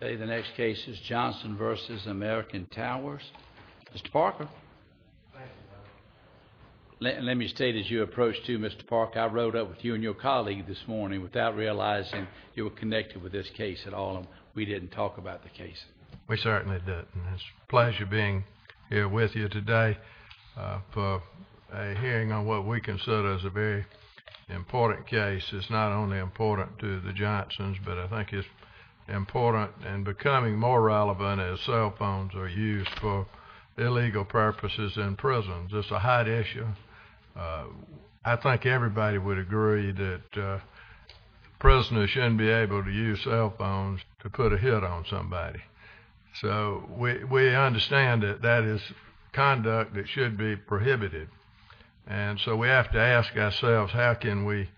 The next case is Johnson v. American Towers. Mr. Parker, let me state as you approach to you, Mr. Parker, I rode up with you and your colleague this morning without realizing you were connected with this case at all and we didn't talk about the case. We certainly didn't. It's a pleasure being here with you today for a hearing on what we consider is a very important case. It's not only important to the Johnsons, but I think it's important and becoming more relevant as cell phones are used for illegal purposes in prisons. It's a hot issue. I think everybody would agree that prisoners shouldn't be able to use cell phones to put a hit on somebody. So we understand that that is conduct that should be prohibited and so we have to ask ourselves how can we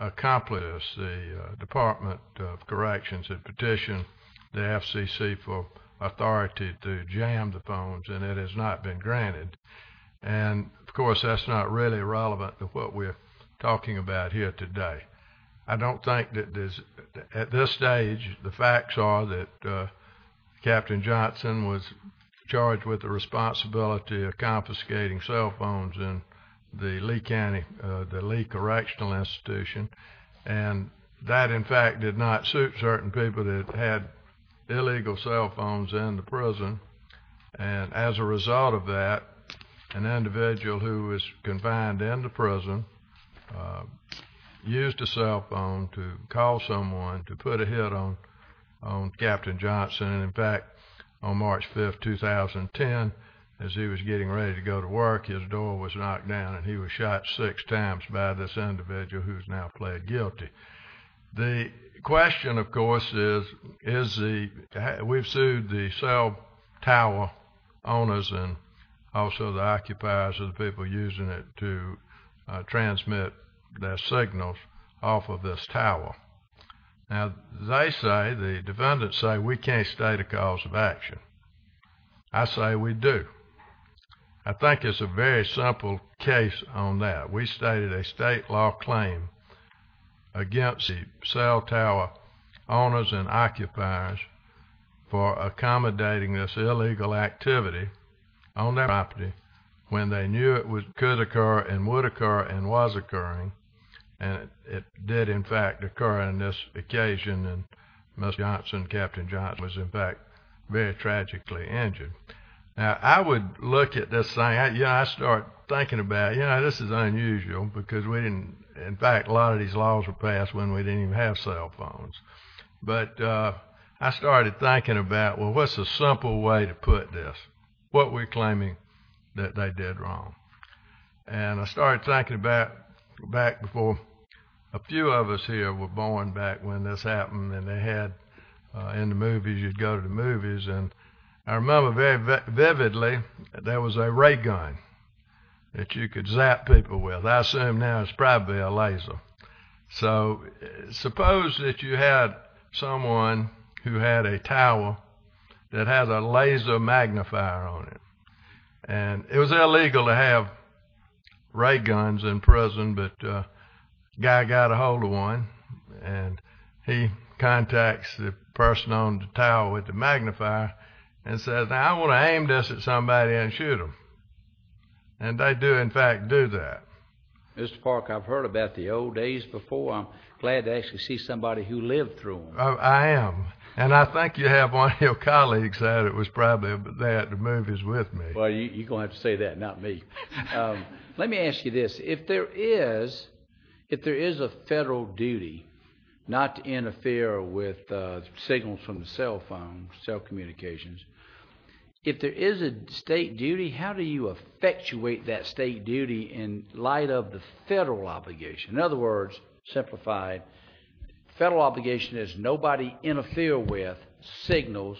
accomplish the Department of Corrections and petition the FCC for authority to jam the phones and it has not been granted and of course that's not really relevant to what we're talking about here today. I don't think that there's at this stage the facts are that Captain Johnson was charged with the responsibility of confiscating cell phones in the Lee County, the Lee Correctional and that in fact did not suit certain people that had illegal cell phones in the prison and as a result of that an individual who was confined in the prison used a cell phone to call someone to put a hit on Captain Johnson and in fact on March 5th 2010 as he was getting ready to go to work his door was knocked down and he was shot six times by this individual who's now pled guilty. The question of course is is the we've sued the cell tower owners and also the occupiers of the people using it to transmit their signals off of this tower. Now they say the defendants say we can't state a cause of action. I say we do. I have a case on that. We stated a state law claim against the cell tower owners and occupiers for accommodating this illegal activity on their property when they knew it could occur and would occur and was occurring and it did in fact occur in this occasion and Captain Johnson was in fact very you know this is unusual because we didn't in fact a lot of these laws were passed when we didn't even have cell phones but I started thinking about well what's a simple way to put this what we're claiming that they did wrong and I started thinking about back before a few of us here were born back when this happened and they had in the movies you'd go to the movies and I remember very vividly there was a ray gun that you could zap people with I assume now it's probably a laser so suppose that you had someone who had a tower that has a laser magnifier on it and it was illegal to have ray guns in prison but guy got a hold of one and he contacts the person on the tower with the I want to aim this at somebody and shoot them and they do in fact do that Mr. Park I've heard about the old days before I'm glad to actually see somebody who lived through I am and I think you have one of your colleagues that it was probably but they had the movies with me well you're gonna have to say that not me let me ask you this if there is if there is a federal duty not to interfere with signals from the cell phone cell communications if there is a state duty how do you effectuate that state duty in light of the federal obligation in other words simplified federal obligation is nobody interfere with signals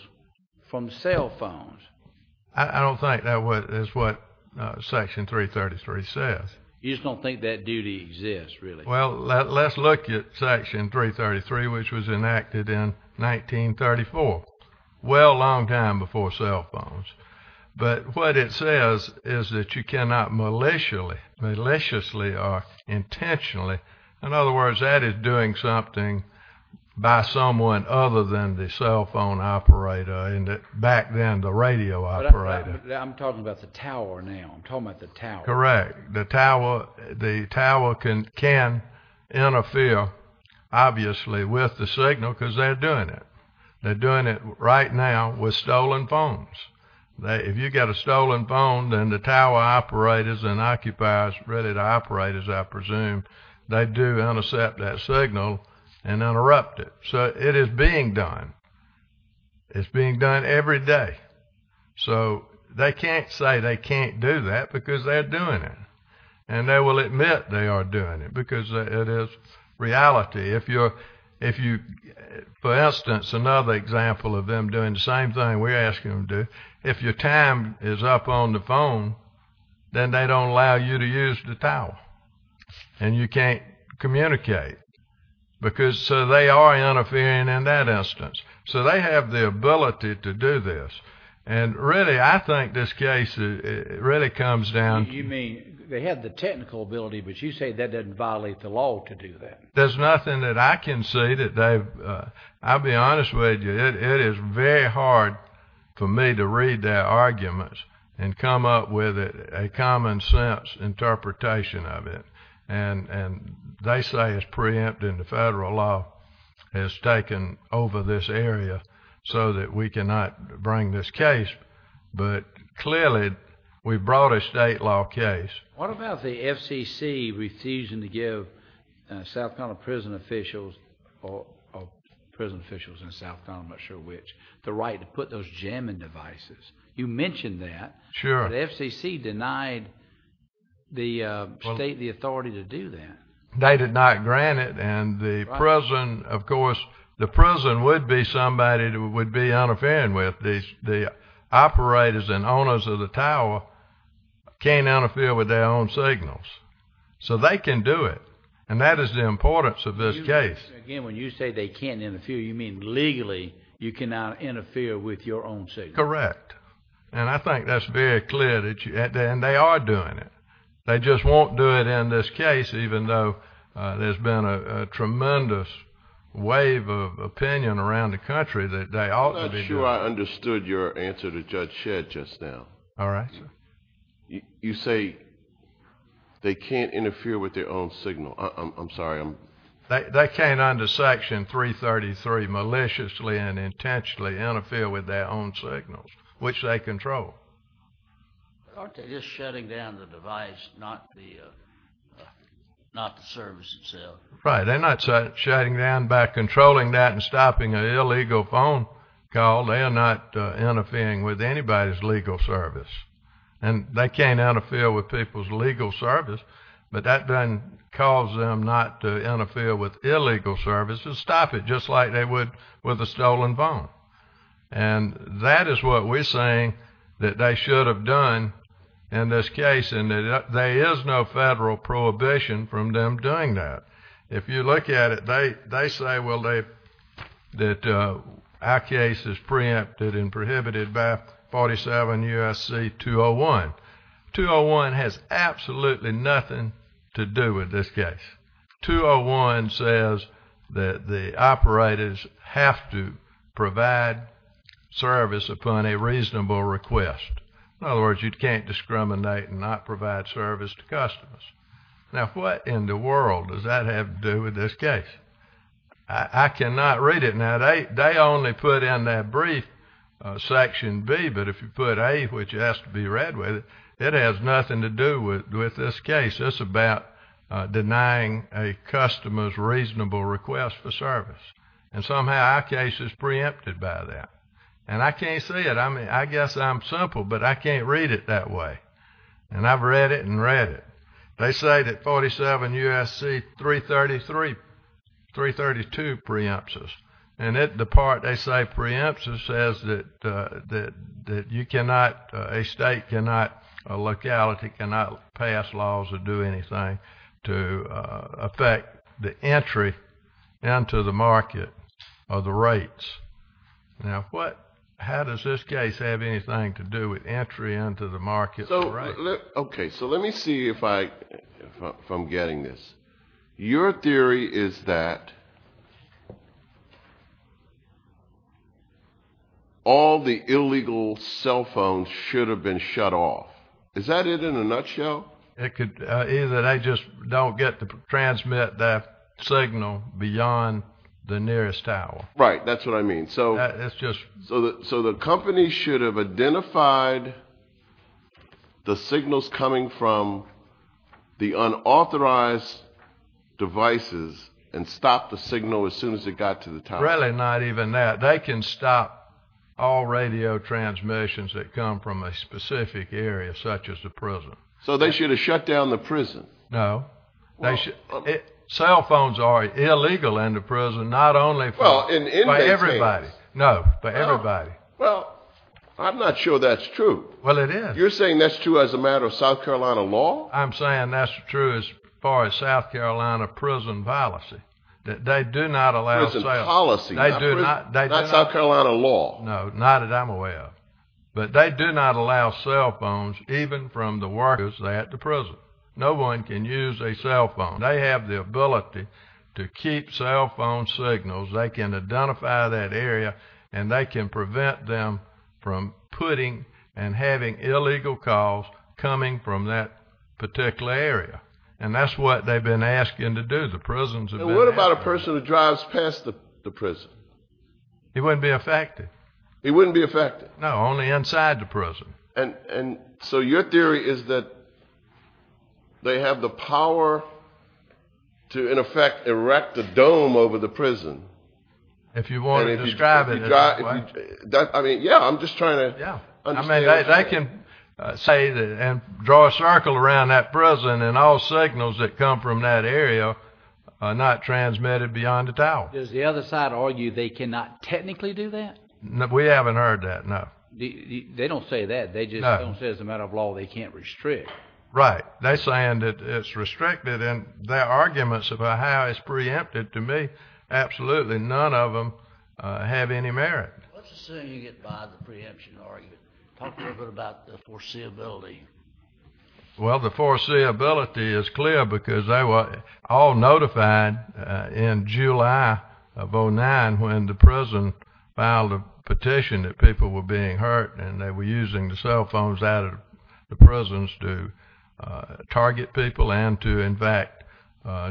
from cell phones I don't think that what is what section 333 says he's gonna think that really well let's look at section 333 which was enacted in 1934 well long time before cell phones but what it says is that you cannot maliciously maliciously are intentionally in other words that is doing something by someone other than the cell phone operator and it back then the radio operator I'm talking about the tower correct the tower the tower can can interfere obviously with the signal because they're doing it they're doing it right now with stolen phones they if you got a stolen phone then the tower operators and occupiers ready to operate as I presume they do intercept that signal and interrupt it so it is being done it's being done every day so they can't say they can't do that because they're doing it and they will admit they are doing it because it is reality if you're if you for instance another example of them doing the same thing we're asking them to do if your time is up on the phone then they don't allow you to use the tower and you can't communicate because so they are interfering in that instance so they have the ability to do this and really I think this case it really comes down to me they had the technical ability but you say that doesn't violate the law to do that there's nothing that I can say that they I'll be honest with you it is very hard for me to read their arguments and come up with a common sense interpretation of it and and they say is preempt in the federal law is taken over this area so that we cannot bring this case but clearly we brought a state law case what about the FCC refusing to give South Carolina prison officials or prison officials in South Carolina sure which the right to put those jamming devices you mentioned that sure the FCC denied the state the authority to do that they did not grant it and the president of course the president would be somebody who would be on a fan with the operators and owners of the tower can't interfere with their own signals so they can do it and that is the importance of this case again when you say they can't interfere you mean legally you cannot interfere with your own say correct and I think that's very clear that you had and they are doing it they just won't do it in this case even though there's been a tremendous wave of sure I understood your answer to judge shed just now all right you say they can't interfere with their own signal I'm sorry I'm they can't under section 333 maliciously and intentionally interfere with their own signals which they control shutting down the device not the not the service itself right they're not shutting down back controlling that and stopping an illegal phone call they are not interfering with anybody's legal service and they can't interfere with people's legal service but that doesn't cause them not to interfere with illegal services stop it just like they would with a stolen phone and that is what we're saying that they should have done in this case and there is no federal prohibition from them doing that if you look at it they they say well they that our case is preempted and prohibited by 47 USC 201 201 has absolutely nothing to do with this case 201 says that the operators have to provide service upon a reasonable request in other words you can't discriminate and not provide service to customers now what in the this case I cannot read it now they they only put in that brief section B but if you put a which has to be read with it it has nothing to do with with this case it's about denying a customer's reasonable request for service and somehow our case is preempted by that and I can't see it I mean I guess I'm simple but I can't read it that way and I've read it and read it they say that 47 USC 333 332 preempts us and it the part they say preempts us says that that that you cannot a state cannot a locality cannot pass laws or do anything to affect the entry into the market or the rates now what how does this case have anything to do with entry into the market okay so let me see if I from getting this your theory is that all the illegal cell phones should have been shut off is that it in a nutshell it could is that I just don't get to transmit that signal beyond the nearest tower right that's what I mean so that's so that so the company should have identified the signals coming from the unauthorized devices and stop the signal as soon as it got to the tower not even that they can stop all radio transmissions that come from a specific area such as the prison so they should have shut down the prison no they cell phones are illegal in the prison not only well in everybody no but everybody well I'm not sure that's true well it is you're saying that's true as a matter of South Carolina law I'm saying that's true as far as South Carolina prison policy that they do not allow the policy they do not South Carolina law no not that I'm aware of but they do not allow cell phones even from the workers at the prison no one can use a cell phone they have the ability to keep cell phone signals they can identify that area and they can prevent them from putting and having illegal calls coming from that particular area and that's what they've been asking to do the prisons and what about a person who drives past the prison he wouldn't be affected he is that they have the power to in effect erect a dome over the prison if you want to describe it that I mean yeah I'm just trying to yeah I mean I can say that and draw a circle around that prison and all signals that come from that area are not transmitted beyond the tower is the other side argue they cannot technically do that no we haven't heard that no they don't say that they just don't say it's a matter of law they can't restrict right they saying that it's restricted and their arguments about how it's preempted to me absolutely none of them have any merit well the foreseeability is clear because they were all notified in July of 09 when the prison filed a petition that people were being hurt and they were using the cell phones out of the prisons to target people and to in fact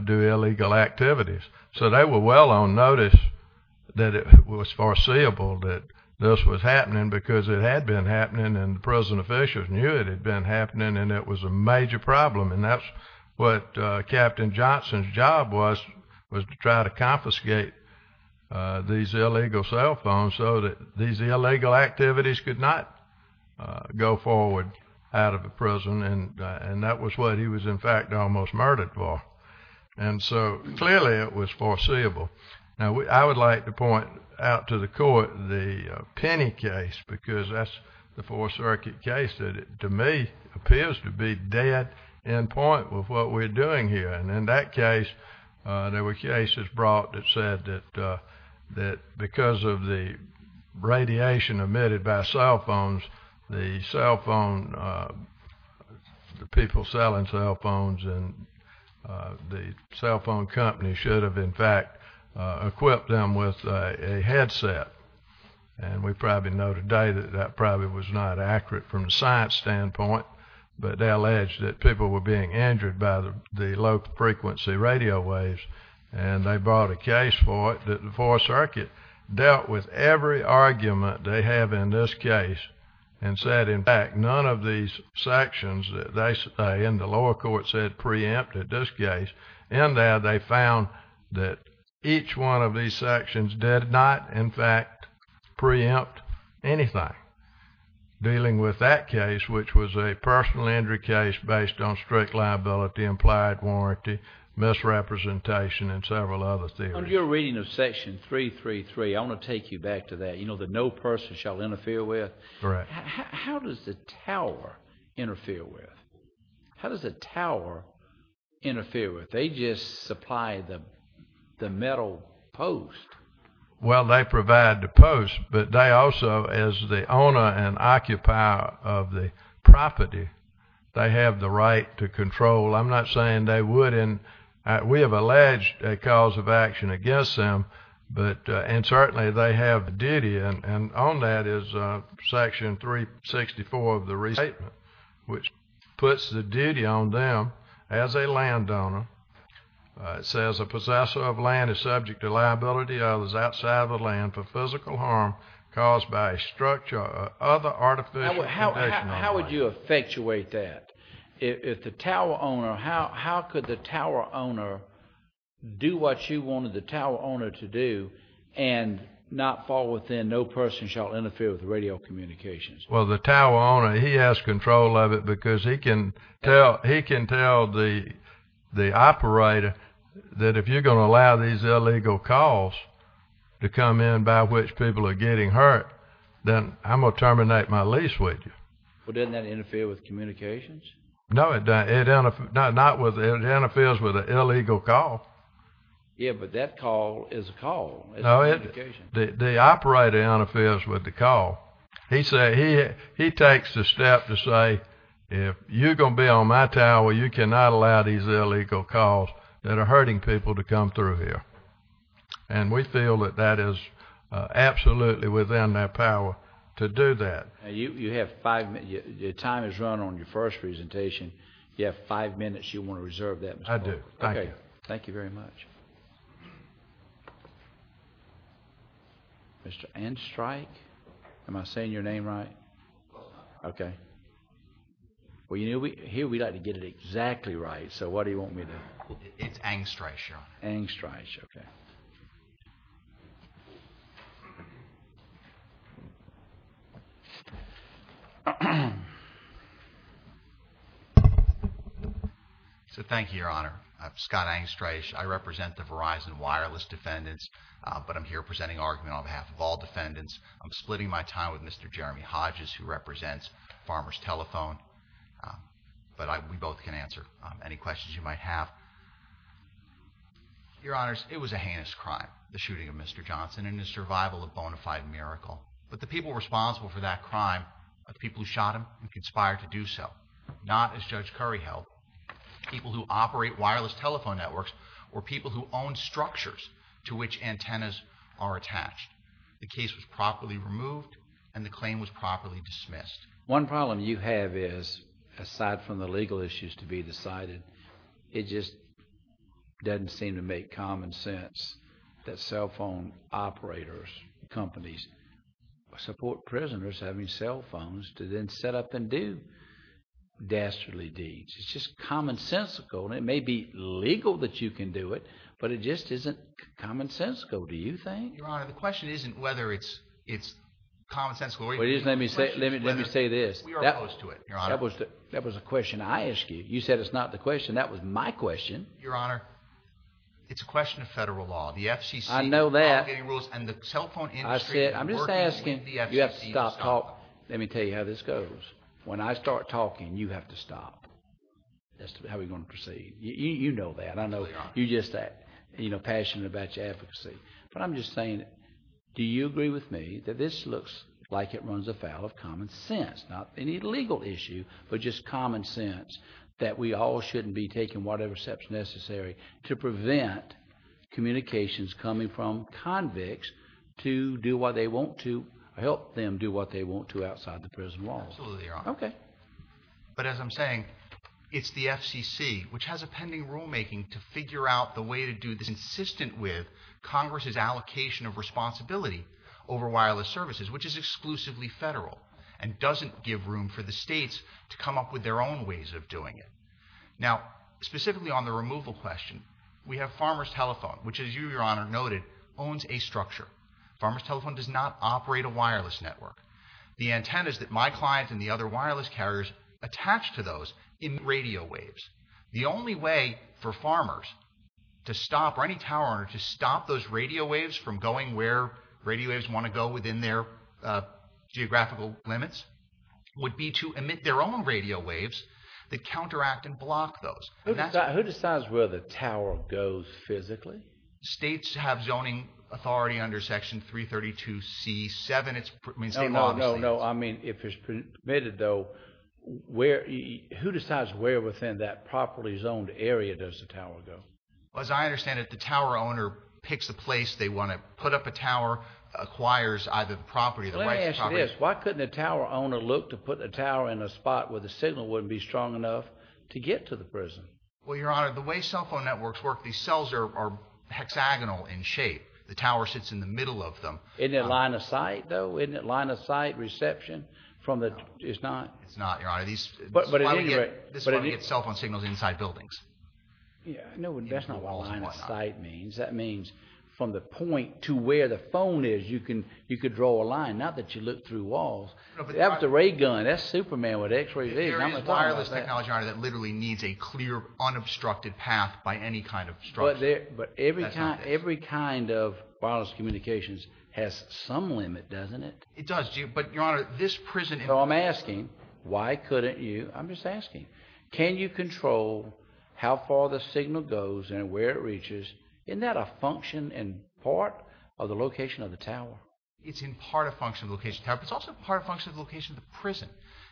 do illegal activities so they were well on notice that it was foreseeable that this was happening because it had been happening and the prison officials knew it had been happening and it was a major problem and that's what captain Johnson's job was was to try to activities could not go forward out of the prison and and that was what he was in fact almost murdered for and so clearly it was foreseeable now I would like to point out to the court the penny case because that's the fourth circuit case that it to me appears to be dead in point with what we're doing here and in that case there were cases brought that said that that because of the radiation emitted by cell phones the cell phone the people selling cell phones and the cell phone company should have in fact equipped them with a headset and we probably know today that that probably was not accurate from the science standpoint but they alleged that people were being injured by the low-frequency radio waves and they brought a case for it that the fourth circuit dealt with every argument they have in this case and said in fact none of these sections that they say in the lower court said preempted this case and there they found that each one of these sections did not in fact preempt anything dealing with that case which was a personal injury case based on strict liability implied warranty misrepresentation and several other things you're reading of section three three three I want to take you back to that you know that no person shall interfere with right how does the tower interfere with how does the tower interfere with they just supply them the metal post well they provide the post but they also as the owner and occupier of the property they have the right to control I'm not saying they wouldn't we have alleged a cause of action against them but and certainly they have the duty and on that is section 364 of the recent which puts the duty on them as a landowner it says a possessor of land is subject to liability others outside of the land for physical harm caused by a structure other artificial how would you effectuate that if the tower owner how could the tower owner do what you wanted the tower owner to do and not fall within no person shall interfere with the radio communications well the tower owner he has control of it because he can tell he can tell the the operator that if you're gonna allow these illegal calls to come in by which people are getting hurt then I'm gonna terminate my lease with you well didn't that interfere with communications no it doesn't if not not with it and it feels with an illegal call yeah but that call is a call no it the operator on affairs with the call he said he he takes the step to say if you're gonna be on my tower you cannot allow these illegal calls that are hurting people to come through here and we feel that that is absolutely within their power to do that you have five minute your time is run on your first presentation you have five minutes you want to reserve that I do okay thank you very much mr. and strike am I saying your name right okay well you know we here we'd like to get it exactly right so what do you want me to it's angst ratio angst ratio okay so thank you your honor I'm Scott angst ratio I represent the Verizon wireless defendants but I'm here presenting argument on behalf of all defendants I'm splitting my time with mr. Jeremy Hodges who represents farmers telephone but I we both can answer any questions you might have your honors it was a heinous crime the shooting of mr. Johnson in the survival of bonafide miracle but the people responsible for that crime of people who shot him we conspired to do so not as judge curry help people who operate wireless telephone networks or people who own structures to which antennas are attached the case was properly removed and the claim was properly dismissed one problem you have is aside from the legal issues to be decided it just doesn't seem to make common sense that cell phone operators companies support prisoners having cell phones to then set up and do dastardly deeds it's just commonsensical it may be legal that you can do it but it just isn't commonsensical do you think the question isn't whether it's it's common sense let me say this that was that was a question I asked you you said it's not the question that was my question your honor it's a question of federal law the FCC I know that I'm just asking you have to stop talk let me tell you how this goes when I start talking you have to stop that's how we gonna proceed you know that I know you just that you know passionate about your advocacy but I'm just saying do you agree with me that this looks like it runs afoul of common sense not any legal issue but just common sense that we all shouldn't be taking whatever steps necessary to prevent communications coming from convicts to do what they want to help them do what they want to outside the prison wall okay but as I'm saying it's the FCC which has a pending rulemaking to figure out the way to do this insistent with Congress's allocation of responsibility over wireless services which is exclusively federal and doesn't give room for the states to come up with their own ways of doing it now specifically on the removal question we have farmers telephone which is you your honor noted owns a structure farmers telephone does not operate a wireless network the antennas that my client and the other wireless carriers attached to those in radio waves the only way for farmers to stop or any tower to stop those radio waves from going where radio waves want to go within their geographical limits would be to emit their own radio waves that counteract and block those who decides where the tower goes physically states have zoning authority under section 332 c7 it's no no no I mean if it's permitted though where he who decides where within that properly zoned area does the tower go as I understand it the tower owner picks the place they want to put up a tower acquires either the property that is why couldn't a tower owner look to put a tower in a spot where the signal wouldn't be strong enough to get to the prison well your honor the way cell phone networks work these cells are hexagonal in shape the tower sits in the middle of them in their line of sight though in that line of sight reception from the it's not it's not your honor these but but anyway but any itself on signals inside buildings yeah no that's not what I mean that means from the point to where the phone is you can you could draw a line not that you look through walls after a gun that's Superman what x-rays are that literally needs a clear unobstructed path by any kind of strut there but every time every kind of wireless communications has some limit doesn't it it does do but your honor this prison no I'm asking why couldn't you I'm just asking can you control how far the signal goes and where it reaches in that a function and part of the location of the tower it's in part a function of location tap it's also part of function of location the prison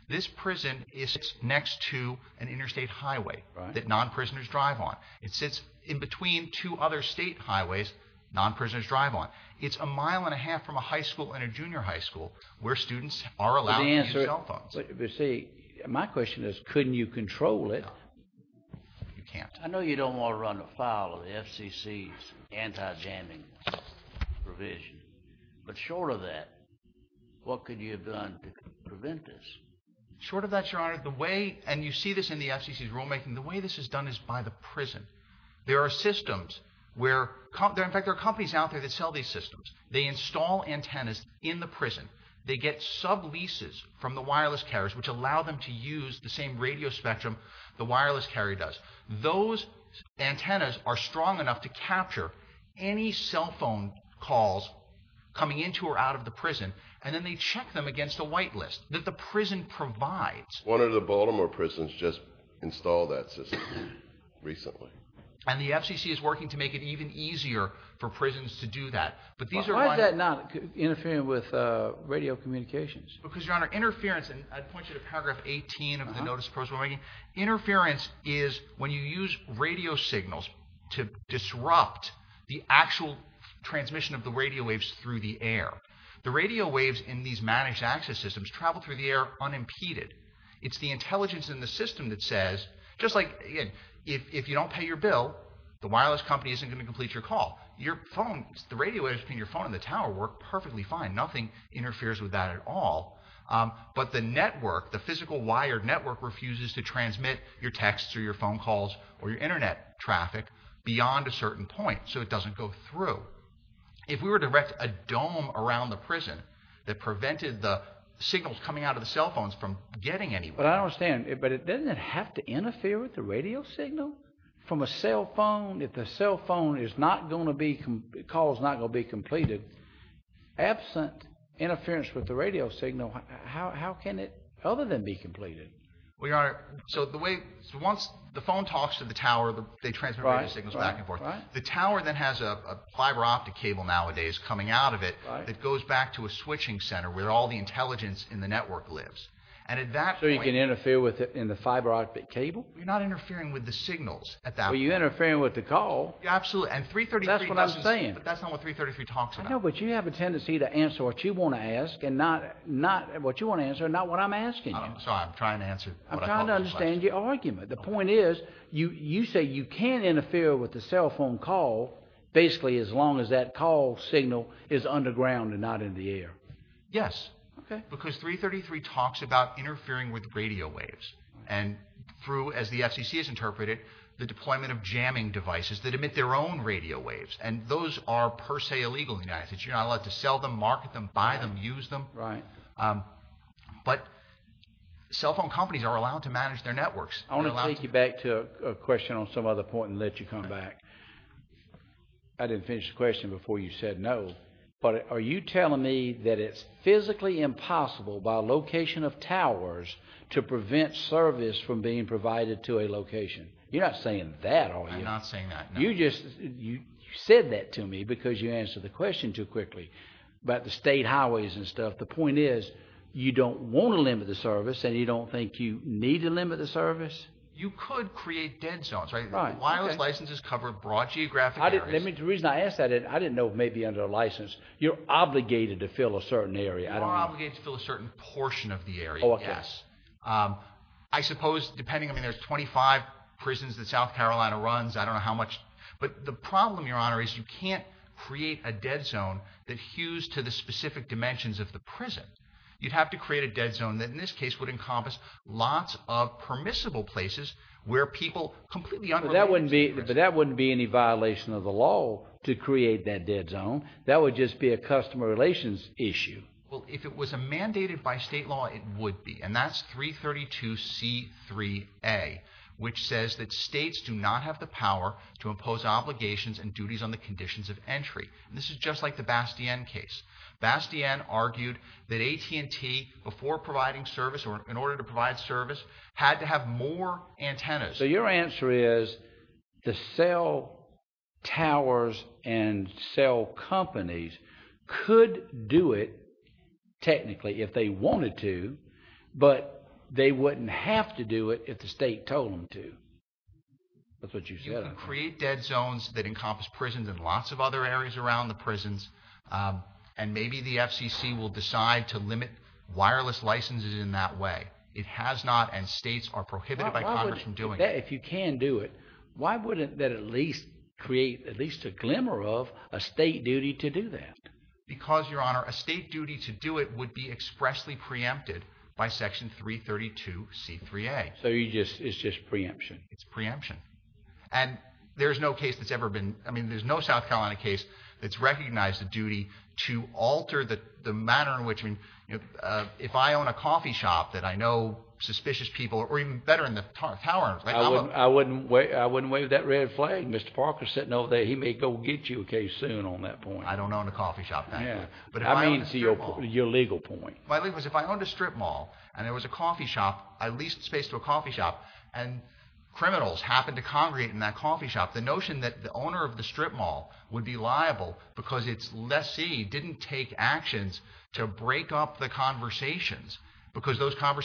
this prison is next to an interstate highway that non-prisoners drive on it sits in between two other state highways non-prisoners drive on it's a mile and a half from a high school and a junior high school where students are allowed to answer cell phones if you see my question is couldn't you control it you can't I know you don't want to run a file of the FCC's anti-jamming provision but short of that what could you have done to prevent this short of that your honor the way and you see this in the FCC's rulemaking the way this is done is by the prison there are systems where there in fact there are these out there that sell these systems they install antennas in the prison they get sub leases from the wireless carriers which allow them to use the same radio spectrum the wireless carry does those antennas are strong enough to capture any cell phone calls coming into or out of the prison and then they check them against a whitelist that the prison provides one of the Baltimore prisons just installed that system recently and the FCC is working to make it even easier for prisons to do that but these are not interfering with radio communications because your honor interference and I'd point you to paragraph 18 of the notice of course we're making interference is when you use radio signals to disrupt the actual transmission of the radio waves through the air the radio waves in these managed access systems travel through the air unimpeded it's the intelligence in the system that says just like again if you don't pay your bill the wireless company isn't gonna complete your call your phone the radio is between your phone in the tower work perfectly fine nothing interferes with that at all but the network the physical wired network refuses to transmit your texts or your phone calls or your internet traffic beyond a certain point so it doesn't go through if we were to erect a dome around the prison that prevented the signals coming out of the cell phones from getting any but I don't stand it but it doesn't have to interfere with the radio signal from a cell phone if the cell phone is not going to be because not gonna be completed absent interference with the radio signal how can it other than be completed we are so the way once the phone talks to the tower they transfer our signals back and forth the tower that has a fiber optic cable nowadays coming out of it it goes back to a switching center where all the intelligence in the network lives and at that so you can interfere with it in the fiber-optic cable you're not interfering with the signals at that were you interfering with the call absolutely and 333 that's what I'm saying that's not what 333 talks I know but you have a tendency to answer what you want to ask and not not what you want to answer not what I'm asking so I'm trying to answer I'm trying to understand your argument the point is you you say you can't interfere with the cell phone call basically as long as that call signal is underground and not in the air yes okay because 333 talks about interfering with radio waves and through as the FCC is interpreted the deployment of jamming devices that emit their own radio waves and those are per se illegally nice that you're not allowed to sell them market them buy them use them right but cell phone companies are allowed to manage their networks I want to take you back to a question on some other point and let you come back I didn't finish the question before you said no but are you telling me that it's physically impossible by location of towers to prevent service from being provided to a location you're not saying that oh you're not saying that you just you said that to me because you answer the question too quickly but the state highways and stuff the point is you don't want to limit the service and you don't think you need to limit the service you could create dead zones right why was licenses covered broad geographic let me the reason I asked that it I didn't know maybe under license you're obligated to fill a certain area I don't feel a certain portion of the area yes I suppose depending I mean there's 25 prisons that South Carolina runs I don't know how much but the problem your honor is you can't create a dead zone that hues to the specific dimensions of the prison you'd have to create a dead zone that in this case would encompass lots of permissible places where people completely that wouldn't be but that wouldn't be any violation of the law to create that dead zone that would just be a customer relations issue well if it was a mandated by state law it would be and that's 332 c3 a which says that states do not have the power to impose obligations and duties on the conditions of entry this is just like the Bastien case Bastien argued that AT&T before providing service or in order to provide service had to have more antennas so your answer is the cell towers and cell companies could do it technically if they wanted to but they wouldn't have to do it if the state told them to that's what you said create dead zones that encompass prisons and lots of other areas around the prisons and maybe the FCC will decide to limit wireless licenses in that way it has not and states are prohibited by Congress from doing that if you can do it why wouldn't that at least create at least a glimmer of a state duty to do that because your honor a state duty to do it would be expressly preempted by section 332 c3 a so you just it's just preemption it's preemption and there's no case that's ever been I mean there's no South Carolina case that's recognized the duty to alter that the manner in which I mean if I own a coffee shop that I know suspicious people or even better I wouldn't wait I wouldn't wave that red flag mr. Parker sitting over there he may go get you okay soon on that point I don't own a coffee shop yeah but I mean to your legal point my leaf was if I owned a strip mall and it was a coffee shop I leased space to a coffee shop and criminals happen to congregate in that coffee shop the notion that the owner of the strip mall would be liable because it's less see didn't take actions to break up the conversations because those kind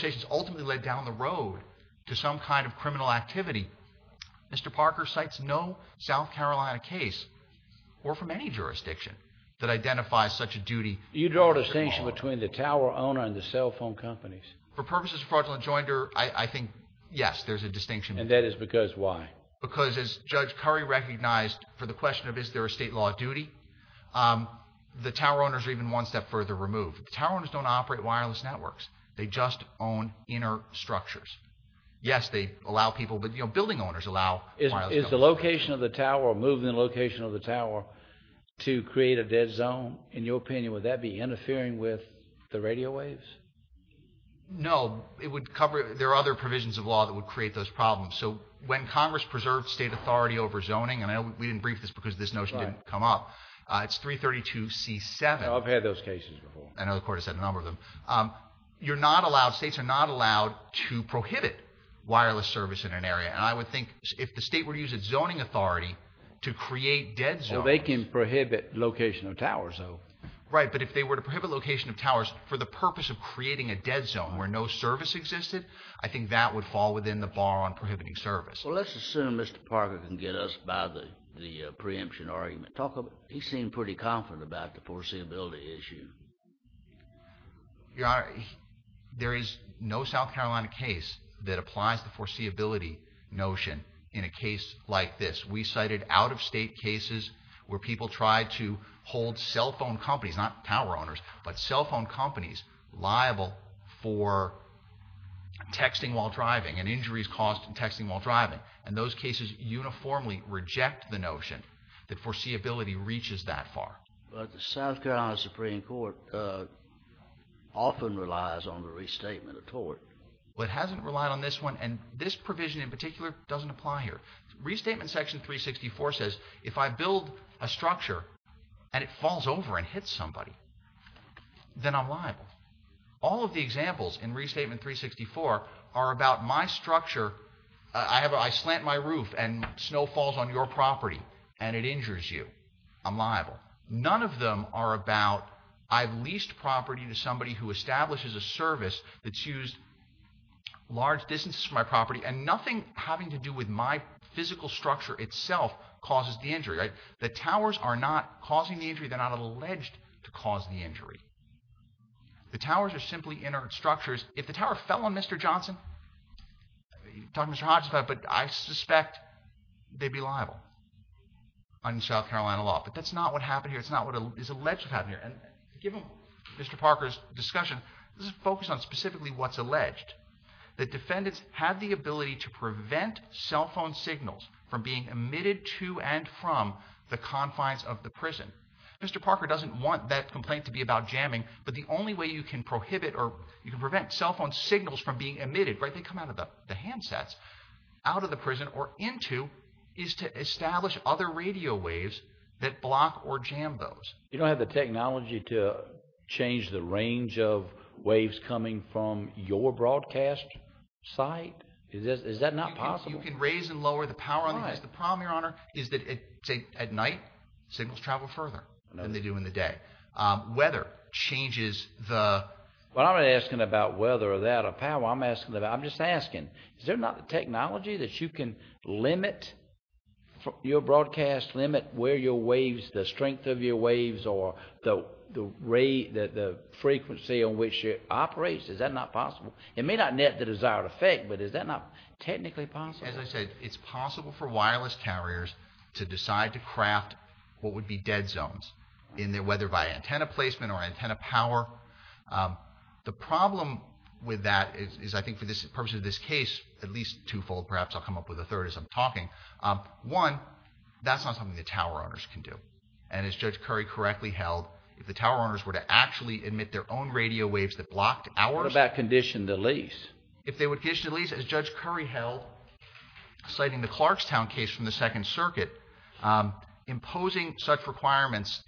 of criminal activity mr. Parker cites no South Carolina case or from any jurisdiction that identifies such a duty you draw a distinction between the tower owner and the cell phone companies for purposes of fraudulent jointer I think yes there's a distinction and that is because why because as judge curry recognized for the question of is there a state law of duty the tower owners are even one step further removed the tower owners don't operate wireless networks they just own inner structures yes they allow people but you know building owners allow is the location of the tower move the location of the tower to create a dead zone in your opinion would that be interfering with the radio waves no it would cover there are other provisions of law that would create those problems so when Congress preserved state authority over zoning and I know we didn't brief this because this notion didn't come up it's 332 c7 I've heard us at a number of them you're not allowed states are not allowed to prohibit wireless service in an area and I would think if the state were to use its zoning authority to create dead so they can prohibit location of towers though right but if they were to prohibit location of towers for the purpose of creating a dead zone where no service existed I think that would fall within the bar on prohibiting service well let's assume mr. Parker can get us by the the preemption argument talk of he seemed pretty confident about the ability issue your honor there is no South Carolina case that applies the foreseeability notion in a case like this we cited out-of-state cases where people tried to hold cell phone companies not power owners but cell phone companies liable for texting while driving and injuries caused in texting while driving and those cases uniformly reject the notion that foreseeability reaches that far but the South Carolina Supreme Court often relies on the restatement of tort but hasn't relied on this one and this provision in particular doesn't apply here restatement section 364 says if I build a structure and it falls over and hit somebody then I'm liable all of the examples in restatement 364 are about my structure I have I slant my roof and it injures you I'm liable none of them are about I've leased property to somebody who establishes a service that's used large distances from my property and nothing having to do with my physical structure itself causes the injury right the towers are not causing the injury they're not alleged to cause the injury the towers are simply inert structures if the tower fell on mr. South Carolina law but that's not what happened here it's not what is alleged have here and given mr. Parker's discussion let's focus on specifically what's alleged that defendants have the ability to prevent cell phone signals from being emitted to and from the confines of the prison mr. Parker doesn't want that complaint to be about jamming but the only way you can prohibit or you can prevent cell phone signals from being emitted right they come out of the handsets out of the prison or into is to establish other radio waves that block or jam those you don't have the technology to change the range of waves coming from your broadcast site is this is that not possible you can raise and lower the power is the problem your honor is that it's a at night signals travel further than they do in the day whether changes the what I'm asking about whether or that a power I'm asking that I'm just asking they're not technology that you can limit your broadcast limit where your waves the strength of your waves or though the ray that the frequency on which it operates is that not possible it may not net the desired effect but is that not technically possible as I said it's possible for wireless carriers to decide to craft what would be dead zones in there whether by antenna placement or the problem with that is I think for this purpose of this case at least twofold perhaps I'll come up with a third as I'm talking one that's not something the tower owners can do and as Judge Curry correctly held if the tower owners were to actually admit their own radio waves that blocked our back condition the lease if they would get to the lease as Judge Curry held citing the Clarkstown case from the Second Circuit imposing such requirements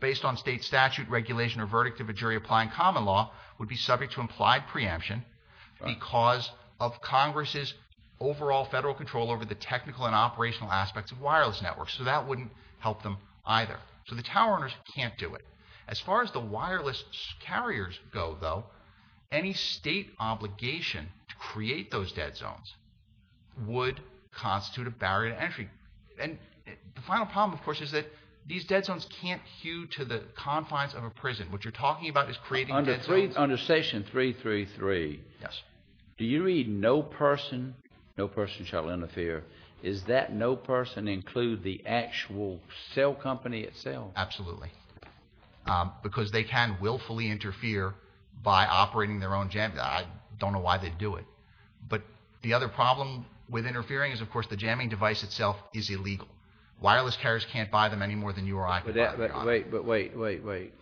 based on state statute regulation or verdict of a jury applying common law would be subject to implied preemption because of Congress's overall federal control over the technical and operational aspects of wireless networks so that wouldn't help them either so the tower owners can't do it as far as the wireless carriers go though any state obligation to create those dead zones would constitute a barrier to entry and the final problem of course is that these dead zones can't be confined to the confines of a prison what you're talking about is creating dead zones under section 333 yes do you read no person no person shall interfere is that no person include the actual cell company itself absolutely because they can willfully interfere by operating their own jam I don't know why they do it but the other problem with interfering is of course the jamming device itself is illegal wireless carriers can't buy them any more than you are I put that but wait but wait wait wait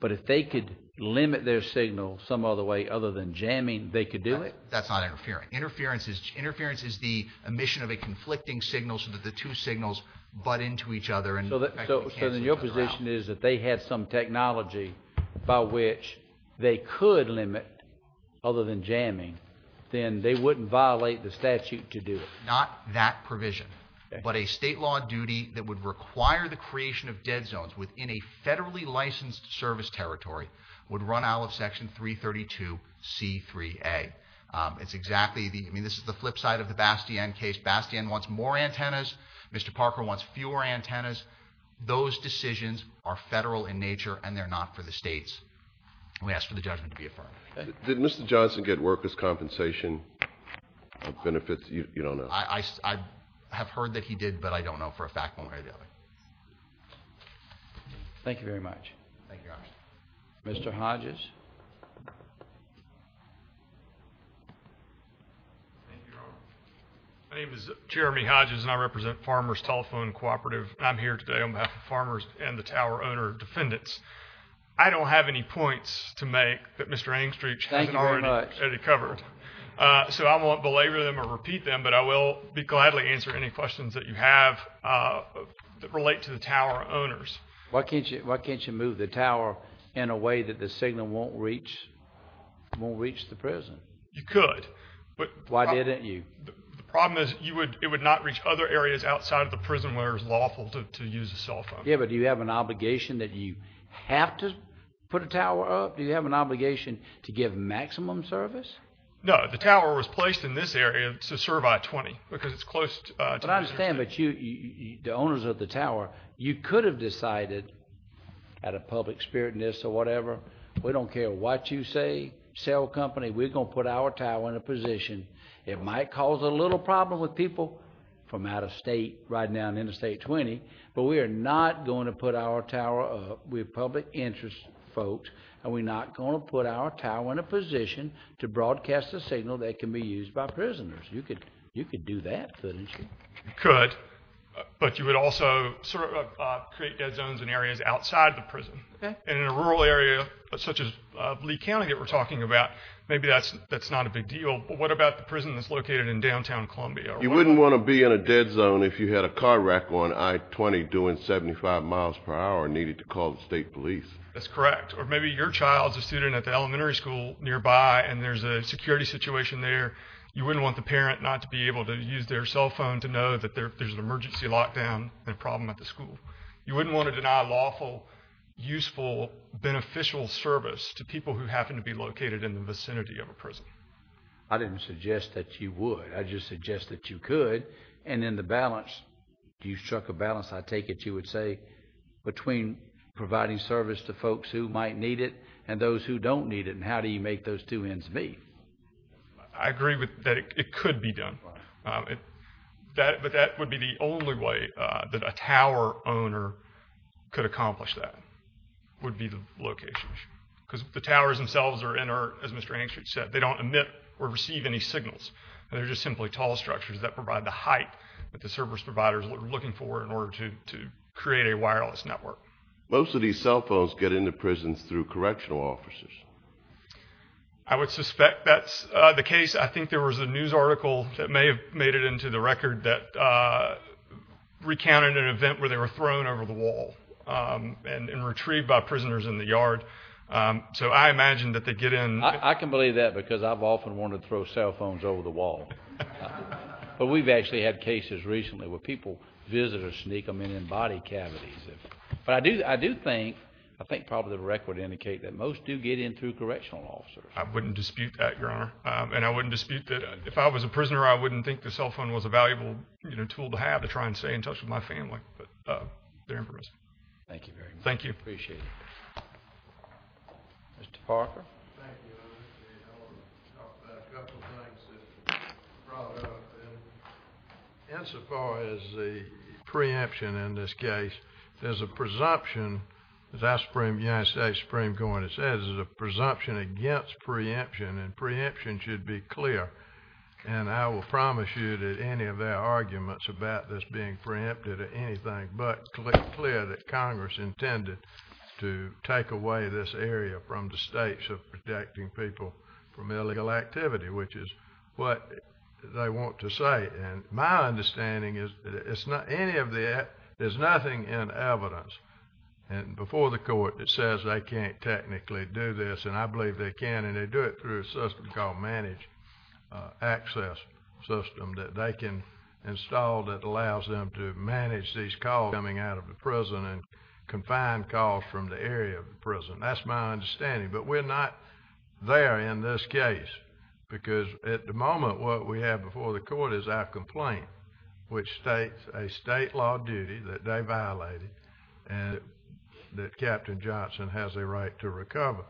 but if they could limit their signal some other way other than jamming they could do it that's not interfering interference is interference is the emission of a conflicting signal so that the two signals but into each other and so that so in your position is that they had some technology by which they could limit other than jamming then they wouldn't violate the statute to do it not that provision but a state law duty that would require the creation of dead zones within a federally licensed service territory would run out of section 332 c3a it's exactly the I mean this is the flip side of the bastion case bastion wants more antennas mr. Parker wants fewer antennas those decisions are federal in nature and they're not for the states we ask for the judgment to be affirmed did mr. Johnson get workers compensation benefits you don't know I have heard that he did but I don't know for a fact one way or the other thank you very much thank you mr. Hodges my name is Jeremy Hodges and I represent farmers telephone cooperative I'm here today on behalf of farmers and the tower owner defendants I don't have any points to make that mr. angstrich thank you very much any cover so I won't belabor them or repeat them but I will be gladly answer any questions that you have that relate to the tower owners why can't you why can't you move the tower in a way that the signal won't reach won't reach the prison you could but why didn't you the problem is you would it would not reach other areas outside of the prison where is lawful to use a cell phone yeah but do you have an obligation that you have to put a tower up do you have an obligation to give maximum service no the tower was placed in this area to survive 20 because it's close but I understand but you the owners of the tower you could have decided at a public spirit in this or whatever we don't care what you say cell company we're gonna put our tower in a position it might cause a little problem with people from out of state right now in the state 20 but we are not going to put our tower with public interest folks and we're not going to put our tower in a position to broadcast a signal that can be used by you could do that couldn't you could but you would also create dead zones in areas outside the prison and in a rural area such as Lee County that we're talking about maybe that's that's not a big deal but what about the prison that's located in downtown Columbia you wouldn't want to be in a dead zone if you had a car wreck on I-20 doing 75 miles per hour needed to call the state police that's correct or maybe your child's a student at the elementary school nearby and there's a security situation there you wouldn't want the be able to use their cell phone to know that there's an emergency lockdown and problem at the school you wouldn't want to deny lawful useful beneficial service to people who happen to be located in the vicinity of a prison I didn't suggest that you would I just suggest that you could and in the balance do you struck a balance I take it you would say between providing service to folks who might need it and those who don't need it and how do you make those two ends meet I agree with that it could be done it that but that would be the only way that a tower owner could accomplish that would be the location because the towers themselves are in or as mr. Hanks which said they don't emit or receive any signals they're just simply tall structures that provide the height that the service providers are looking for in order to create a wireless network most of these cell phones get into prisons through correctional officers I would suspect that's the case I think there was a news article that may have made it into the record that recounted an event where they were thrown over the wall and retrieved by prisoners in the yard so I imagine that they get in I can believe that because I've often wanted to throw cell phones over the wall but we've actually had cases recently where people visitors sneak them in and body cavities but I do I do think I think probably the record indicate that most do get in through correctional officers I wouldn't dispute that your honor and I wouldn't dispute that if I was a prisoner I wouldn't think the cell phone was a valuable you know tool to have to try and stay in touch with my family but they're impressive thank you very much thank you appreciate mr. Parker insofar as the preemption in this case there's a presumption that spring going it says is a presumption against preemption and preemption should be clear and I will promise you that any of their arguments about this being preempted or anything but clear that Congress intended to take away this area from the states of protecting people from illegal activity which is what they want to say and my understanding is it's not any of the app there's nothing in evidence and before the court that says they can't technically do this and I believe they can and they do it through a system called managed access system that they can install that allows them to manage these calls coming out of the prison and confined calls from the area of the prison that's my understanding but we're not there in this case because at the moment what we have before the that Captain Johnson has a right to recover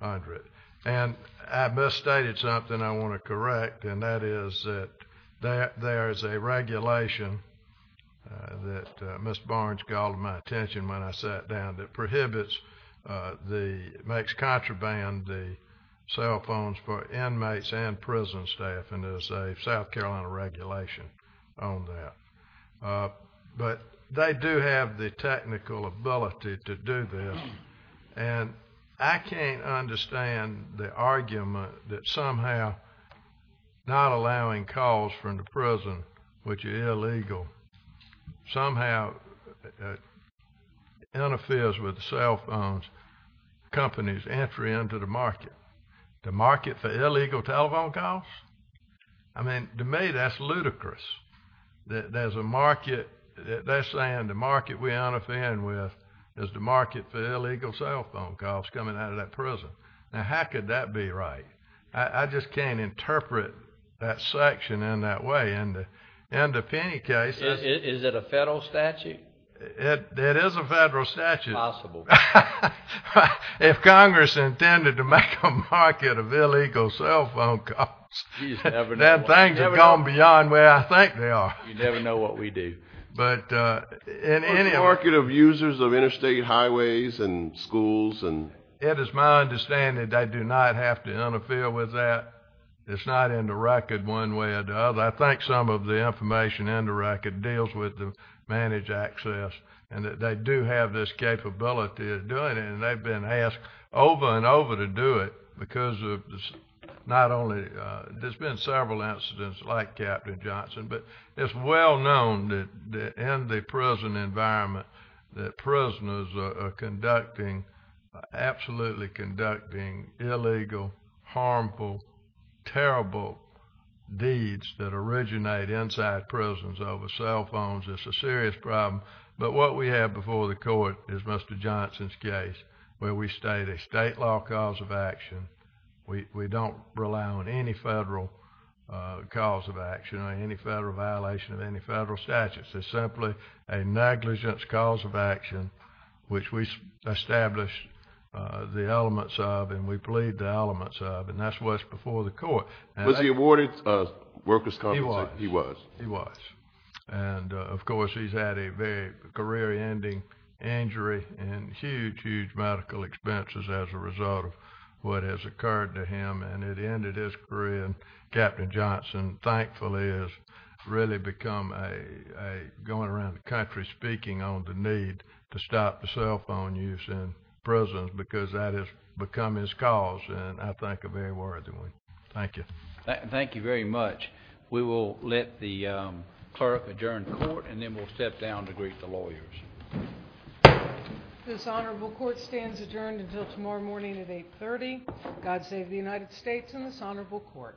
under it and I misstated something I want to correct and that is that that there is a regulation that mr. Barnes called my attention when I sat down that prohibits the makes contraband the cell phones for inmates and prison staff and there's a South have the technical ability to do this and I can't understand the argument that somehow not allowing calls from the prison which is illegal somehow interferes with cell phones companies entry into the market the market for illegal telephone calls I mean to me that's ludicrous that there's a market they're saying the market we on a fan with is the market for illegal cell phone calls coming out of that prison now how could that be right I just can't interpret that section in that way and in the penny case is it a federal statute it is a federal statute possible if Congress intended to make a market of illegal cell phone cops then things have gone beyond where I think they are you but in any market of users of interstate highways and schools and it is my understanding they do not have to interfere with that it's not in the record one way or the other I think some of the information in the record deals with the managed access and that they do have this capability of doing it and they've been asked over and over to do it because of this not only there's been several incidents like Captain Johnson but it's well known that in the prison environment that prisoners are conducting absolutely conducting illegal harmful terrible deeds that originate inside prisons over cell phones it's a serious problem but what we have before the court is mr. Johnson's case where we state a state law cause of action we don't rely on any federal cause of action or any federal violation of any federal statutes it's simply a negligence cause of action which we established the elements of and we plead the elements of and that's what's before the court was he awarded workers company he was he was and of course he's had a very career-ending injury and huge medical expenses as a result of what has occurred to him and it ended his career and Captain Johnson thankfully is really become a going around the country speaking on the need to stop the cell phone use in prison because that has become his cause and I think a very worthy one thank you thank you very much we will let the clerk adjourn the court and then we'll step down to greet the adjourned until tomorrow morning at 830 God save the United States and this honorable court